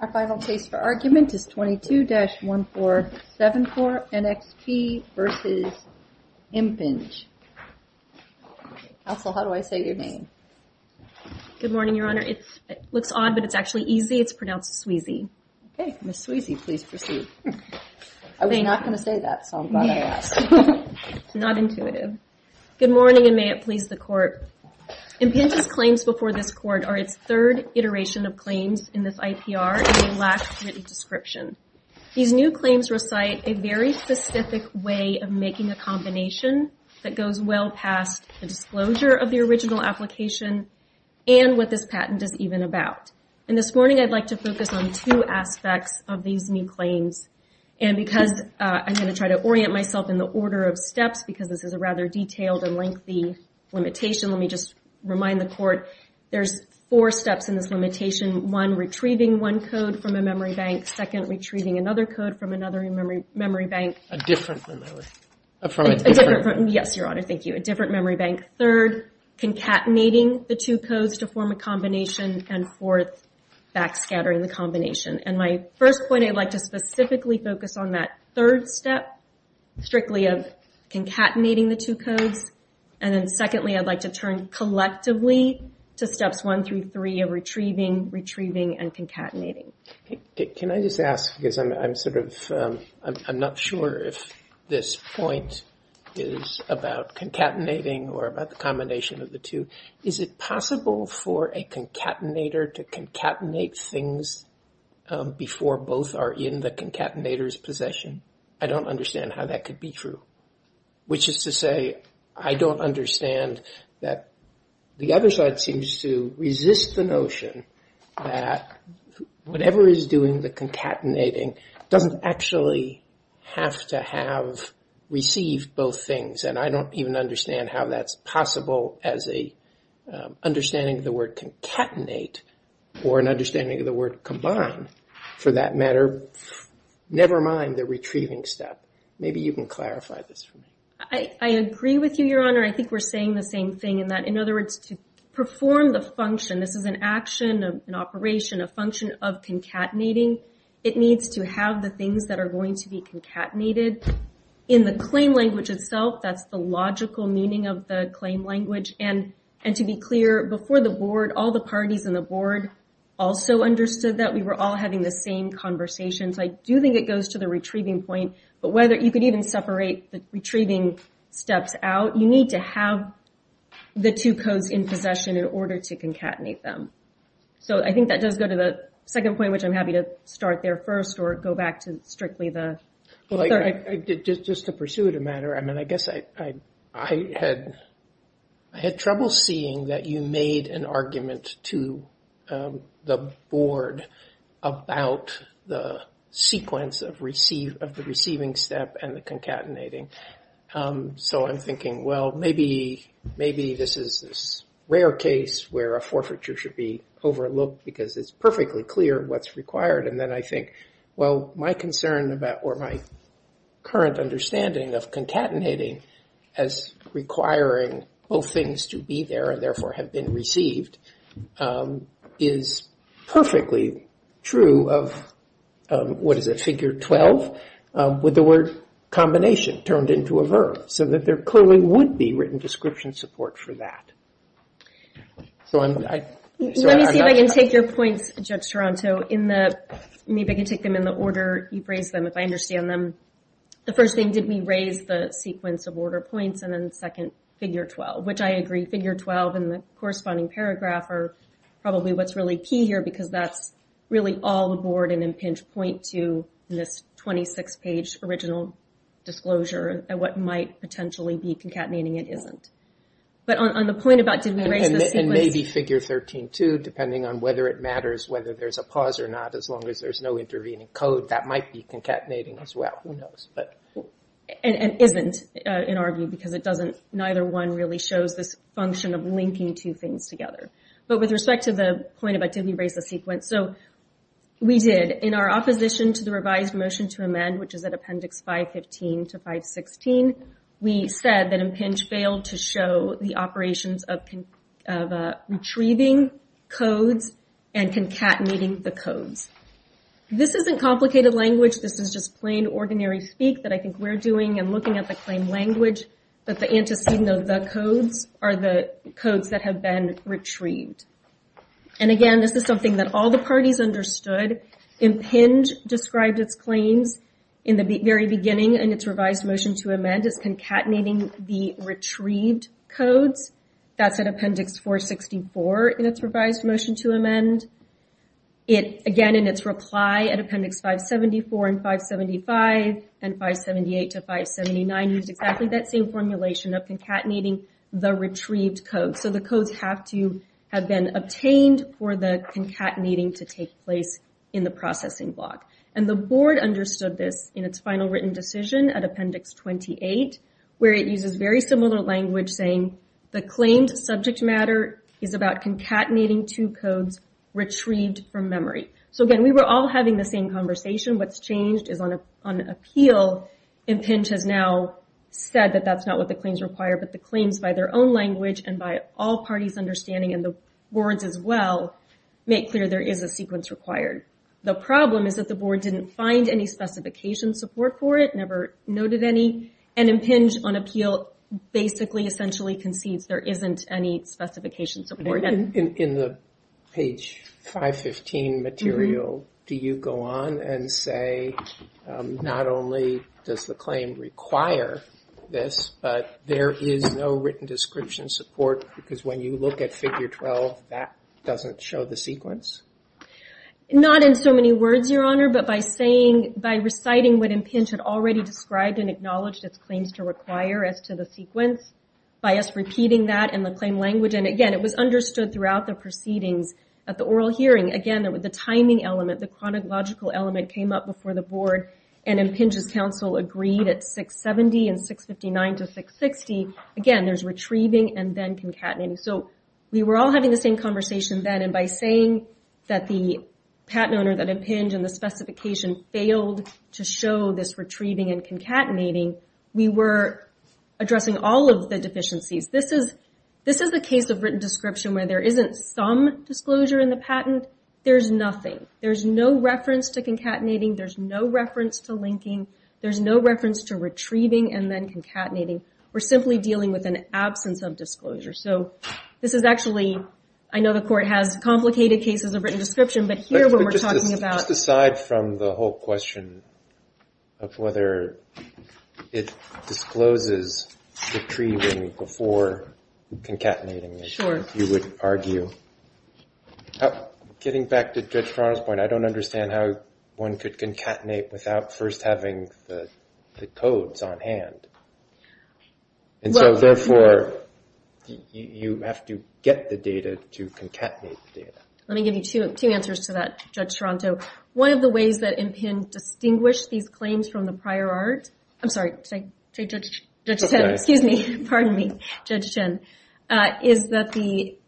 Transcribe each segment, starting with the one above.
Our final case for argument is 22-1474, NXP v. Impinj. Counsel, how do I say your name? Good morning, Your Honor. It looks odd, but it's actually easy. It's pronounced Sweezy. Okay. Ms. Sweezy, please proceed. I was not going to say that, so I'm glad I asked. It's not intuitive. Good morning, and may it please the Court. Impinj's claims before this Court are its third iteration of claims in this IPR, and they lack written description. These new claims recite a very specific way of making a combination that goes well past the disclosure of the original application and what this patent is even about. And this morning, I'd like to focus on two aspects of these new claims. And because I'm going to try to orient myself in the order of steps, because this is a rather detailed and lengthy limitation, let me just remind the Court there's four steps in this limitation. One, retrieving one code from a memory bank. Second, retrieving another code from another memory bank. A different memory bank. Yes, Your Honor. Thank you. A different memory bank. Third, concatenating the two codes to form a combination. And fourth, backscattering the combination. And my first point, I'd like to specifically focus on that third step, strictly of concatenating the two codes. And then secondly, I'd like to turn collectively to steps one through three of retrieving, retrieving, and concatenating. Can I just ask, because I'm sort of, I'm not sure if this point is about concatenating or about the combination of the two. Is it possible for a concatenator to concatenate things before both are in the concatenator's possession? I don't understand how that could be true. Which is to say, I don't understand that the other side seems to resist the notion that whatever is doing the concatenating doesn't actually have to have received both things. And I don't even understand how that's possible as an understanding of the word concatenate or an understanding of the word combine, for that matter. Never mind the retrieving step. Maybe you can clarify this for me. I agree with you, Your Honor. I think we're saying the same thing in that, in other words, to perform the function, this is an action, an operation, a function of concatenating, it needs to have the things that are going to be concatenated. In the claim language itself, that's the logical meaning of the claim language. And to be clear, before the board, all the parties in the board also understood that we were all having the same conversations. I do think it goes to the retrieving point. But whether you could even separate the retrieving steps out, you need to have the two codes in possession in order to concatenate them. So I think that does go to the second point, which I'm happy to start there first or go back to strictly the third. Just to pursue the matter, I mean, I guess I had trouble seeing that you made an argument to the board about the sequence of the receiving step and the concatenating. So I'm thinking, well, maybe this is this rare case where a forfeiture should be overlooked because it's perfectly clear what's required. And then I think, well, my concern about, or my current understanding of concatenating as requiring both things to be there and therefore have been received is perfectly true of, what is it, figure 12 with the word combination turned into a verb, so that there clearly would be written description support for that. So I'm not- Let me see if I can take your points, Judge Toronto, in the, maybe I can take them in the order you've raised them, if I understand them. The first thing, did we raise the sequence of order points and then the second, figure 12, which I agree, figure 12 and the corresponding paragraph are probably what's really key here because that's really all the board and Impinj point to in this 26-page original disclosure and what might potentially be concatenating it isn't. But on the point about did we raise the sequence- And maybe figure 13, too, depending on whether it matters whether there's a pause or not, as long as there's no intervening code, that might be concatenating as well. Who knows? And isn't, in our view, because it doesn't, neither one really shows this function of linking two things together. But with respect to the point about did we raise the sequence, so we did. In our opposition to the revised motion to amend, which is at appendix 515 to 516, we said that Impinj failed to show the operations of retrieving codes and concatenating the codes. This isn't complicated language. This is just plain, ordinary speak that I think we're doing and looking at the claim language. But the antecedent of the codes are the codes that have been retrieved. And again, this is something that all the parties understood. Impinj described its claims in the very beginning in its revised motion to amend as concatenating the retrieved codes. That's at appendix 464 in its revised motion to amend. It, again, in its reply at appendix 574 and 575 and 578 to 579 used exactly that same formulation of concatenating the retrieved codes. So the codes have to have been obtained for the concatenating to take place in the processing block. And the board understood this in its final written decision at appendix 28, where it uses very similar language saying the claimed subject matter is about concatenating two codes retrieved from memory. So again, we were all having the same conversation. What's changed is on appeal, Impinj has now said that that's not what the claims require, but the claims by their own language and by all parties' understanding and the board's as well make clear there is a sequence required. The problem is that the board didn't find any specification support for it, never noted any. And Impinj on appeal basically essentially concedes there isn't any specification support. In the page 515 material, do you go on and say not only does the claim require this, but there is no written description support because when you look at figure 12, that doesn't show the sequence? Not in so many words, Your Honor, but by saying, by reciting what Impinj had already described and acknowledged its claims to require as to the sequence by us repeating that in the claim language. And again, it was understood throughout the proceedings at the oral hearing, again, that with the timing element, the chronological element came up before the board and Impinj's counsel agreed at 670 and 659 to 660. Again, there's retrieving and then concatenating. So we were all having the same conversation then, and by saying that the patent owner, that Impinj and the specification failed to show this retrieving and concatenating, we were addressing all of the deficiencies. This is the case of written description where there isn't some disclosure in the patent. There's nothing. There's no reference to concatenating. There's no reference to linking. There's no reference to retrieving and then concatenating. We're simply dealing with an absence of disclosure. So this is actually, I know the court has complicated cases of written description, but here what we're talking about- But just aside from the whole question of whether it discloses retrieving before concatenating, you would argue. Getting back to Judge Toronto's point, I don't understand how one could concatenate without first having the codes on hand. And so therefore, you have to get the data to concatenate the data. Let me give you two answers to that, Judge Toronto. One of the ways that Impinj distinguished these claims from the prior art, I'm sorry, Judge Chen. Excuse me, pardon me, Judge Chen. Is that the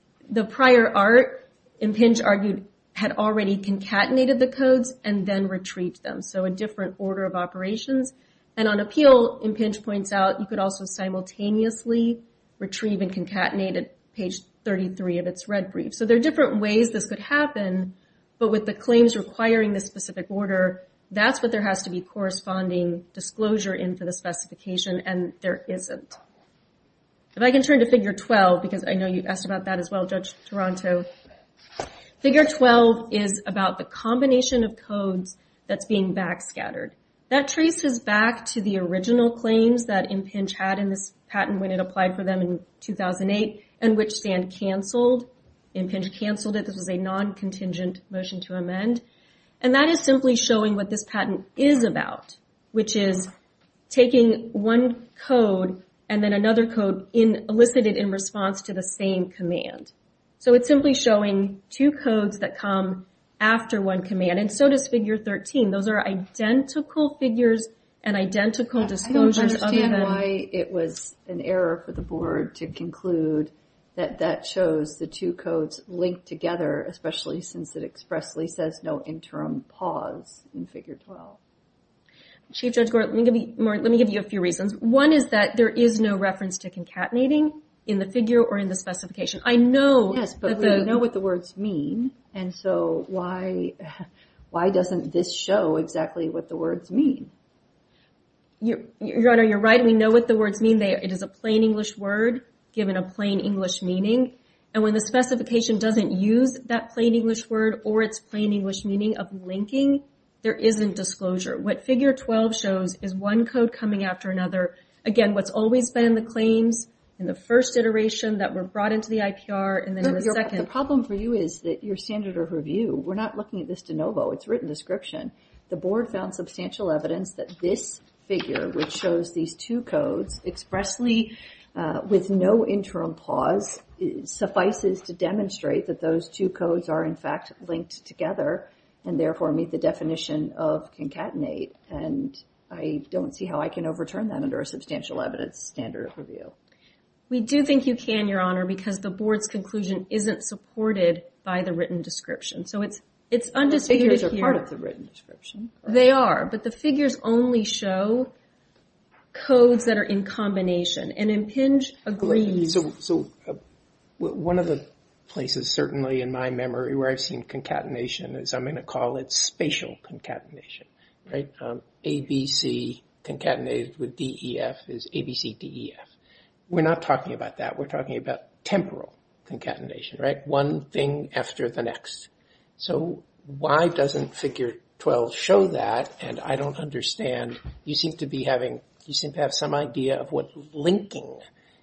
prior art, Impinj argued, had already concatenated the codes and then retrieved them. So a different order of operations. And on appeal, Impinj points out, you could also simultaneously retrieve and concatenate at page 33 of its red brief. So there are different ways this could happen, but with the claims requiring this specific order, that's what there has to be corresponding disclosure in for the specification, and there isn't. If I can turn to figure 12, because I know you asked about that as well, Judge Toronto. Figure 12 is about the combination of codes that's being backscattered. That traces back to the original claims that Impinj had in this patent when it applied for them in 2008, and which Sand canceled. Impinj canceled it. This was a non-contingent motion to amend. And that is simply showing what this patent is about, which is taking one code and then another code elicited in response to the same command. So it's simply showing two codes that come after one command. And so does figure 13. Those are identical figures and identical disclosures. I don't understand why it was an error for the board to conclude that that shows the two codes linked together, especially since it expressly says no interim pause in figure 12. Chief Judge Gore, let me give you a few reasons. One is that there is no reference to concatenating in the figure or in the specification. I know that the- Yes, but we know what the words mean, and so why doesn't this show exactly what the words mean? Your Honor, you're right. We know what the words mean. It is a plain English word given a plain English meaning. And when the specification doesn't use that plain English word or its plain English meaning of linking, there isn't disclosure. What figure 12 shows is one code coming after another. Again, what's always been in the claims in the first iteration that were brought into the IPR and then in the second- The problem for you is that your standard of review, we're not looking at this de novo. The board found substantial evidence that this figure, which shows these two codes expressly with no interim pause, suffices to demonstrate that those two codes are in fact linked together and therefore meet the definition of concatenate. And I don't see how I can overturn that under a substantial evidence standard of review. We do think you can, Your Honor, because the board's conclusion isn't supported by the written description. So it's undisputed here- The figures are part of the written description. They are, but the figures only show codes that are in combination. And Impinj agrees- So one of the places, certainly in my memory, where I've seen concatenation is I'm going to call it spatial concatenation, right? ABC concatenated with DEF is ABCDEF. We're not talking about that. We're talking about temporal concatenation, right? One thing after the next. So why doesn't figure 12 show that? And I don't understand. You seem to be having, you seem to have some idea of what linking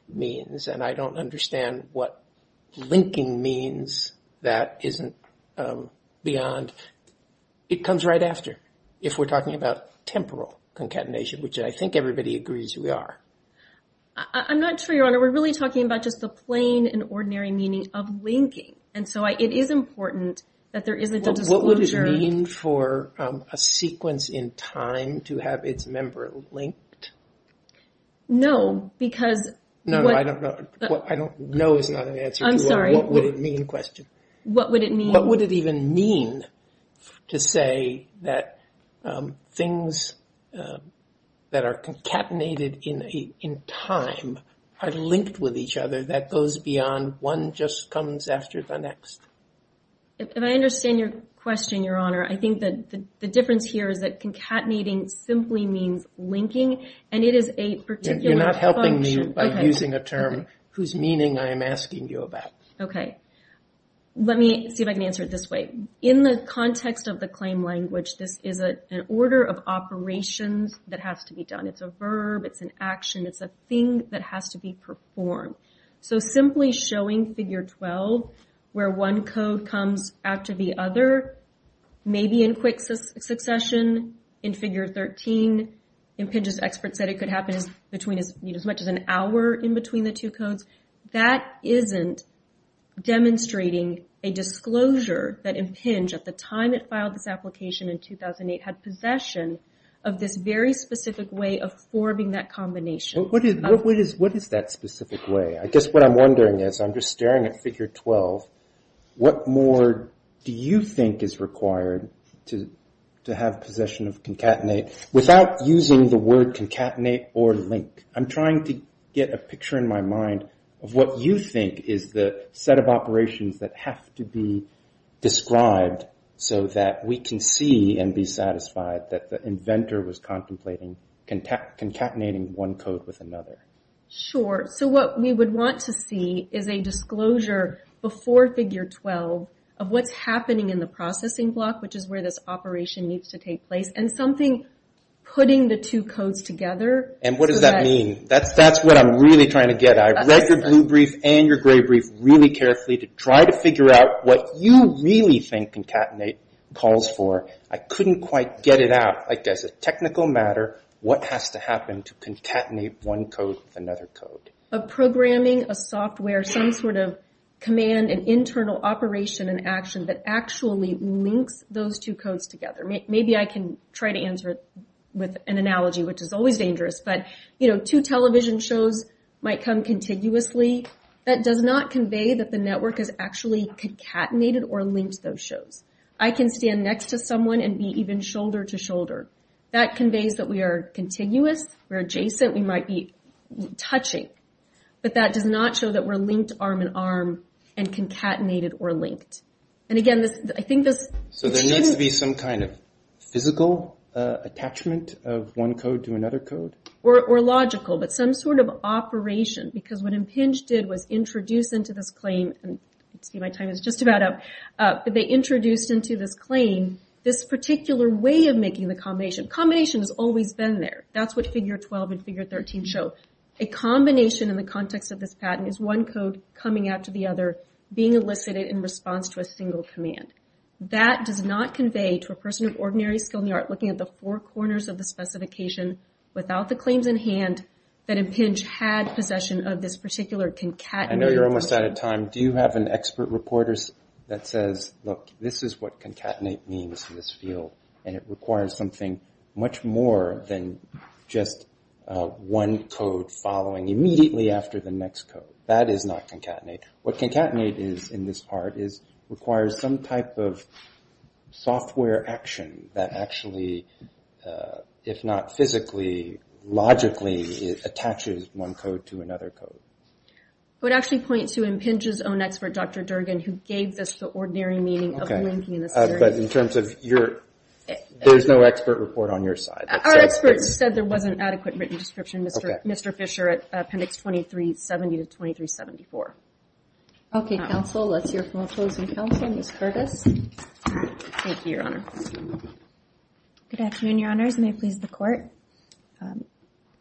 means. And I don't understand what linking means that isn't beyond. It comes right after if we're talking about temporal concatenation, which I think everybody agrees we are. I'm not sure, Your Honor. We're really talking about just the plain and ordinary meaning of linking. And so it is important that there isn't a disclosure- What would it mean for a sequence in time to have its member linked? No, because- No, no, I don't know. No is not an answer to what would it mean question. What would it mean? What would it even mean to say that things that are concatenated in time are linked with each other that goes beyond one just comes after the next? If I understand your question, Your Honor, I think that the difference here is that concatenating simply means linking. And it is a particular function- You're not helping me by using a term whose meaning I am asking you about. Okay. Let me see if I can answer it this way. In the context of the claim language, this is an order of operations that has to be done. It's a verb. It's an action. It's a thing that has to be performed. So simply showing figure 12 where one code comes after the other, maybe in quick succession in figure 13, Impinj's expert said it could happen between as much as an hour in between the two codes, that isn't demonstrating a disclosure that Impinj at the time it filed this application in 2008 had possession of this very specific way of forming that combination. What is that specific way? I guess what I'm wondering is, I'm just staring at figure 12. What more do you think is required to have possession of concatenate without using the word concatenate or link? I'm trying to get a picture in my mind of what you think is the set of operations that have to be described so that we can see and be satisfied that the inventor was contemplating concatenating one code with another. Sure. So what we would want to see is a disclosure before figure 12 of what's happening in the processing block, which is where this operation needs to take place, and something putting the two codes together. And what does that mean? That's what I'm really trying to get at. I read your blue brief and your gray brief really carefully to try to figure out what you really think concatenate calls for. I couldn't quite get it out. Like as a technical matter, what has to happen to concatenate one code with another code? A programming, a software, some sort of command, an internal operation and action that actually links those two codes together. Maybe I can try to answer it with an analogy, which is always dangerous. But, you know, two television shows might come contiguously. That does not convey that the network has actually concatenated or linked those shows. I can stand next to someone and be even shoulder to shoulder. That conveys that we are continuous, we're adjacent, we might be touching. But that does not show that we're linked arm in arm and concatenated or linked. And again, I think this... So there needs to be some kind of physical attachment of one code to another code? Or logical, but some sort of operation. Because what Impinj did was introduce into this claim, and let's see, my time is just about up. But they introduced into this claim this particular way of making the combination. Combination has always been there. That's what figure 12 and figure 13 show. A combination in the context of this patent is one code coming after the other, being elicited in response to a single command. That does not convey to a person of ordinary skill in the art looking at the four corners of the specification without the claims in hand, that Impinj had possession of this particular concatenated... I know you're almost out of time. Do you have an expert reporter that says, look, this is what concatenate means in this field. And it requires something much more than just one code following immediately after the next code. That is not concatenate. What concatenate is in this part is requires some type of software action that actually, if not physically, logically, it attaches one code to another code. I would actually point to Impinj's own expert, Dr. Durgin, who gave this the ordinary meaning of linking in this area. But in terms of your... There's no expert report on your side. Our experts said there wasn't adequate written description, Mr. Fisher, at appendix 2370 to 2374. Okay, counsel. Let's hear from opposing counsel, Ms. Curtis. Thank you, Your Honor. Good afternoon, Your Honors. May it please the court.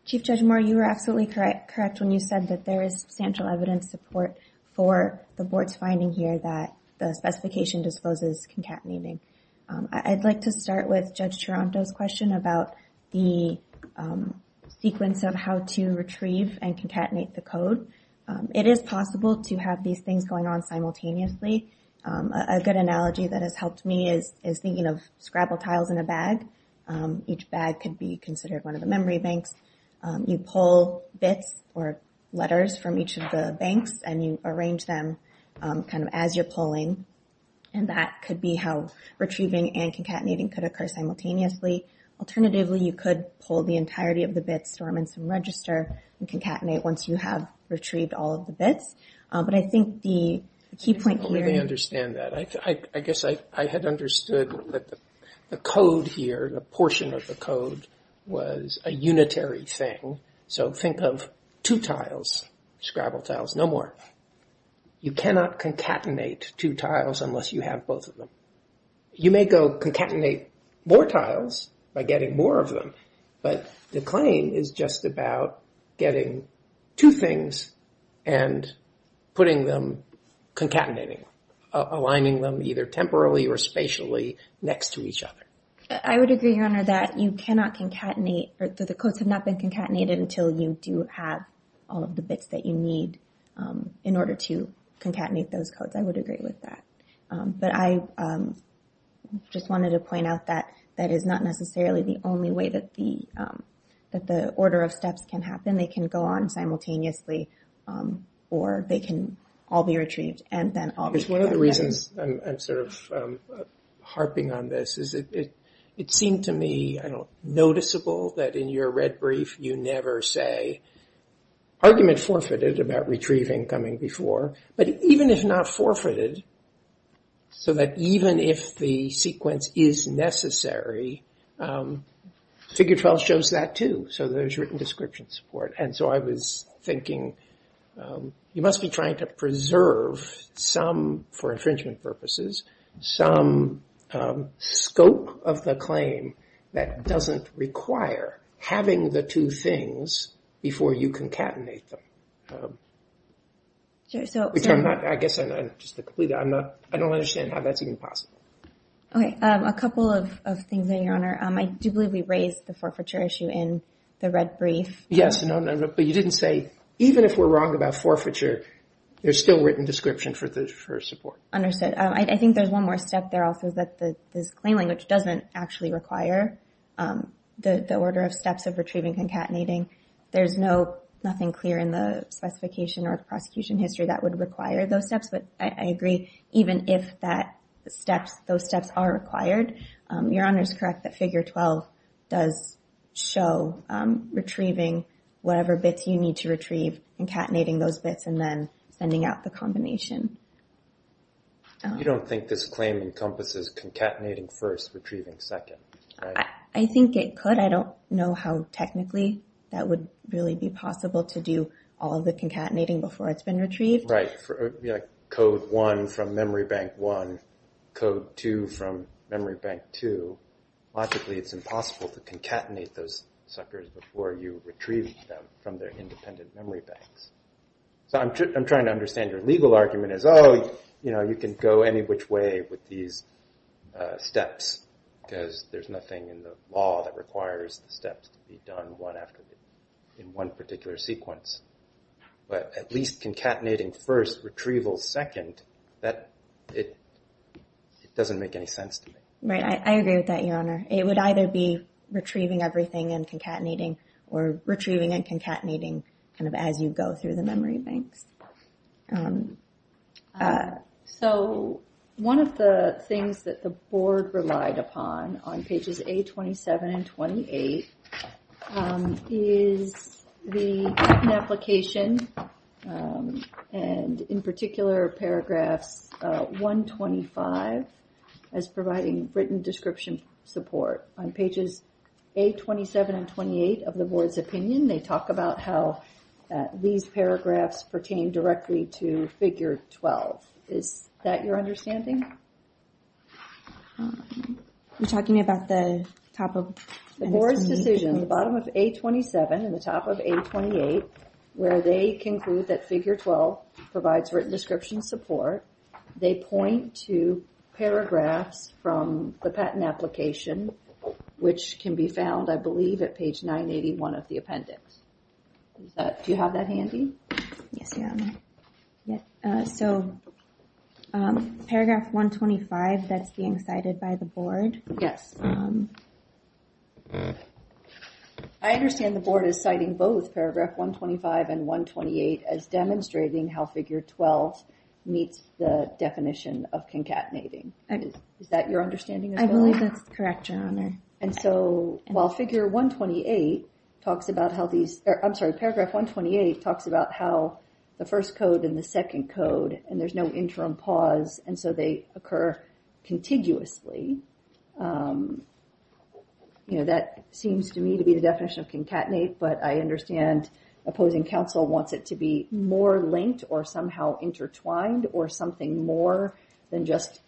Chief Judge Moore, you were absolutely correct when you said that there is substantial evidence support for the board's finding here that the specification disposes concatenating. I'd like to start with Judge Taranto's question about the sequence of how to retrieve and concatenate the code. It is possible to have these things going on simultaneously. A good analogy that has helped me is thinking of Scrabble tiles in a bag. Each bag could be considered one of the memory banks. You pull bits or letters from each of the banks and you arrange them kind of as you're pulling. And that could be how retrieving and concatenating could occur simultaneously. Alternatively, you could pull the entirety of the bits, store them in some register, and concatenate once you have retrieved all of the bits. But I think the key point here... I don't really understand that. I guess I had understood that the code here, the portion of the code, was a unitary thing. So think of two tiles, Scrabble tiles, no more. You cannot concatenate two tiles unless you have both of them. You may go concatenate more tiles by getting more of them, but the claim is just about getting two things and putting them, concatenating, aligning them either temporally or spatially next to each other. I would agree, Your Honor, that you cannot concatenate... that the codes have not been concatenated until you do have all of the bits that you need in order to concatenate those codes. I would agree with that. But I just wanted to point out that that is not necessarily the only way that the order of steps can happen. They can go on simultaneously or they can all be retrieved and then all be concatenated. One of the reasons I'm sort of harping on this is it seemed to me, I don't know, noticeable that in your red brief you never say, argument forfeited about retrieving coming before. But even if not forfeited, so that even if the sequence is necessary, figure 12 shows that too. So there's written description support. And so I was thinking, you must be trying to preserve some, for infringement purposes, some scope of the claim that doesn't require having the two things before you concatenate them. Which I'm not, I guess, just to complete that, I don't understand how that's even possible. Okay, a couple of things there, Your Honor. I do believe we raised the forfeiture issue in the red brief. Yes, but you didn't say, even if we're wrong about forfeiture, there's still written description for support. Understood. I think there's one more step there also that this claim language doesn't actually require the order of steps of retrieving concatenating. There's nothing clear in the specification or prosecution history that would require those steps. But I agree, even if those steps are required, Your Honor's correct that figure 12 does show retrieving whatever bits you need to retrieve, concatenating those bits, and then sending out the combination. You don't think this claim encompasses concatenating first, retrieving second, right? I think it could. I don't know how technically that would really be possible to do all of the concatenating before it's been retrieved. Right, code one from memory bank one, code two from memory bank two. Logically, it's impossible to concatenate those suckers before you retrieve them from their independent memory banks. So I'm trying to understand your legal argument is, oh, you can go any which way with these steps because there's nothing in the law that requires the steps to be done one after the other in one particular sequence. But at least concatenating first, retrieval second, that, it doesn't make any sense to me. Right, I agree with that, Your Honor. It would either be retrieving everything and concatenating or retrieving and concatenating kind of as you go through the memory banks. So one of the things that the board relied upon on pages A27 and 28 is the written application and in particular paragraphs 125 as providing written description support. On pages A27 and 28 of the board's opinion, they talk about how these paragraphs pertain directly to figure 12. Is that your understanding? You're talking about the top of... The board's decision, the bottom of A27 and the top of A28 where they conclude that figure 12 provides written description support, they point to paragraphs from the patent application which can be found, I believe, at page 981 of the appendix. Do you have that handy? Yes, Your Honor. So paragraph 125 that's being cited by the board. Yes. I understand the board is citing both paragraph 125 and 128 as demonstrating how figure 12 meets the definition of concatenating. Is that your understanding as well? I believe that's correct, Your Honor. And so while figure 128 talks about how these... I'm sorry, paragraph 128 talks about how the first code and the second code and there's no interim pause and so they occur contiguously. That seems to me to be the definition of concatenate, but I understand opposing counsel wants it to be more linked or somehow intertwined or something more than just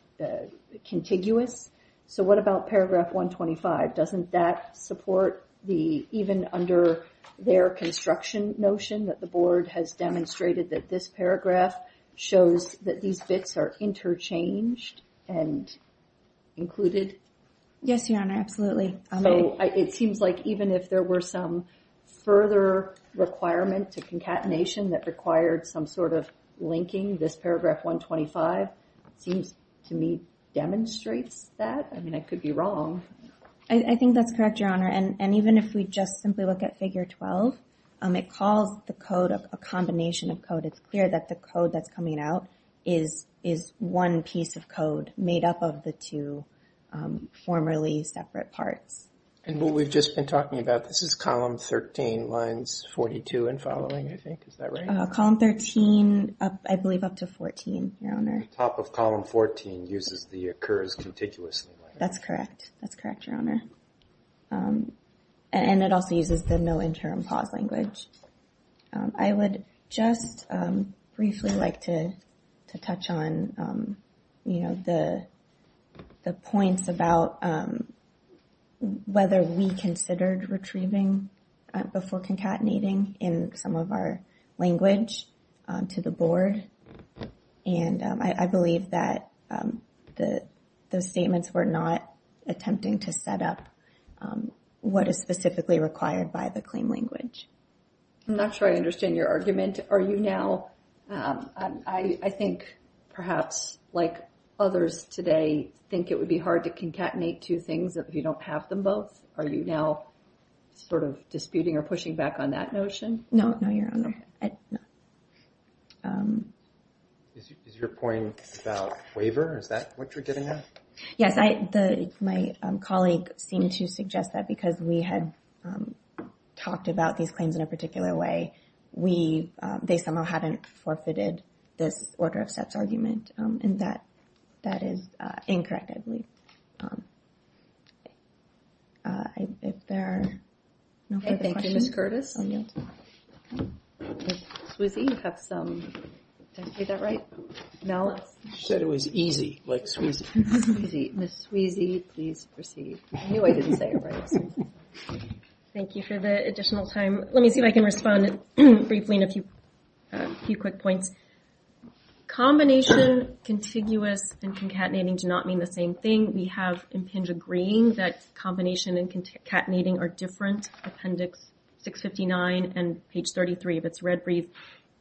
contiguous. So what about paragraph 125? Doesn't that support even under their construction notion that the board has demonstrated that this paragraph shows that these bits are interchanged and included? Yes, Your Honor, absolutely. It seems like even if there were some further requirement to concatenation that required some sort of linking, this paragraph 125 seems to me demonstrates that. I mean, I could be wrong. I think that's correct, Your Honor. And even if we just simply look at figure 12, it calls the code a combination of code. It's clear that the code that's coming out is one piece of code made up of the two formerly separate parts. And what we've just been talking about, this is column 13, lines 42 and following, I think. Is that right? Column 13, I believe up to 14, Your Honor. The top of column 14 uses the occurs contiguously language. That's correct. That's correct, Your Honor. And it also uses the no interim pause language. I would just briefly like to touch on, you know, the points about whether we considered retrieving before concatenating in some of our language to the board. And I believe that those statements were not attempting to set up what is specifically required by the claim language. I'm not sure I understand your argument. Are you now... I think perhaps like others today think it would be hard to concatenate two things if you don't have them both. Are you now sort of disputing or pushing back on that notion? No, Your Honor. Is your point about waiver? Is that what you're getting at? Yes, my colleague seemed to suggest that because we had talked about these claims in a particular way, they somehow hadn't forfeited this order of sets argument. And that is incorrect, I believe. If there are no further questions... Thank you, Ms. Curtis. Ms. Sweezy, you have some... Did I say that right? Malice? She said it was easy, like Sweezy. Ms. Sweezy, please proceed. I knew I didn't say it right. Thank you for the additional time. Let me see if I can respond briefly in a few quick points. Combination, contiguous, and concatenating do not mean the same thing. We have Impinja Green that combination and concatenating are different. Appendix 659 and page 33 of its red brief.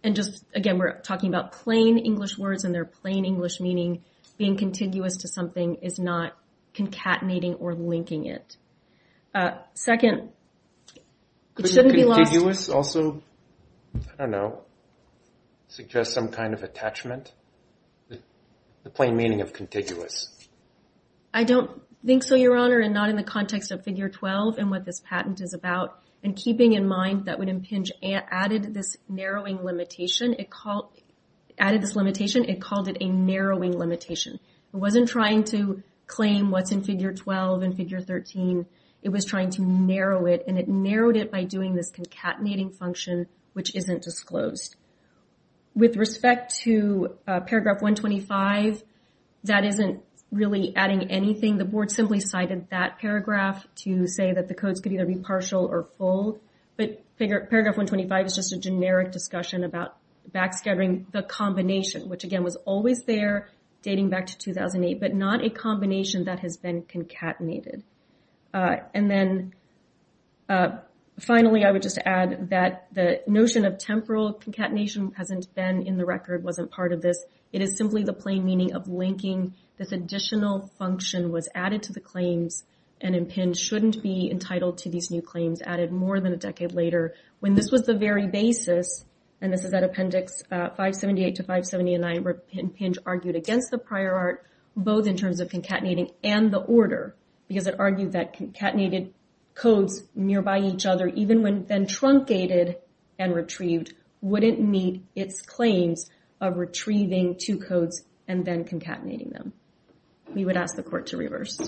And just again, we're talking about plain English words and their plain English meaning. Being contiguous to something is not concatenating or linking it. Second, it shouldn't be lost... Couldn't contiguous also, I don't know, suggest some kind of attachment? The plain meaning of contiguous. I don't think so, Your Honor, and not in the context of Figure 12 and what this patent is about. And keeping in mind that when Impinja added this narrowing limitation, it called it a narrowing limitation. It wasn't trying to claim what's in Figure 12 and Figure 13. It was trying to narrow it and it narrowed it by doing this concatenating function which isn't disclosed. With respect to paragraph 125, that isn't really adding anything. The Board simply cited that paragraph to say that the codes could either be partial or full. But paragraph 125 is just a generic discussion about backscattering the combination which again was always there dating back to 2008 but not a combination that has been concatenated. And then finally I would just add that the notion of temporal concatenation hasn't been in the record, wasn't part of this. It is simply the plain meaning of linking this additional function was added to the claims and Impinja shouldn't be entitled to these new claims added more than a decade later when this was the very basis and this is at Appendix 578 to 579 where Impinja argued against the prior art both in terms of concatenating and the order because it argued that concatenated codes nearby each other even when then truncated and retrieved wouldn't meet its claims of retrieving two codes and then concatenating them. We would ask the court to reverse.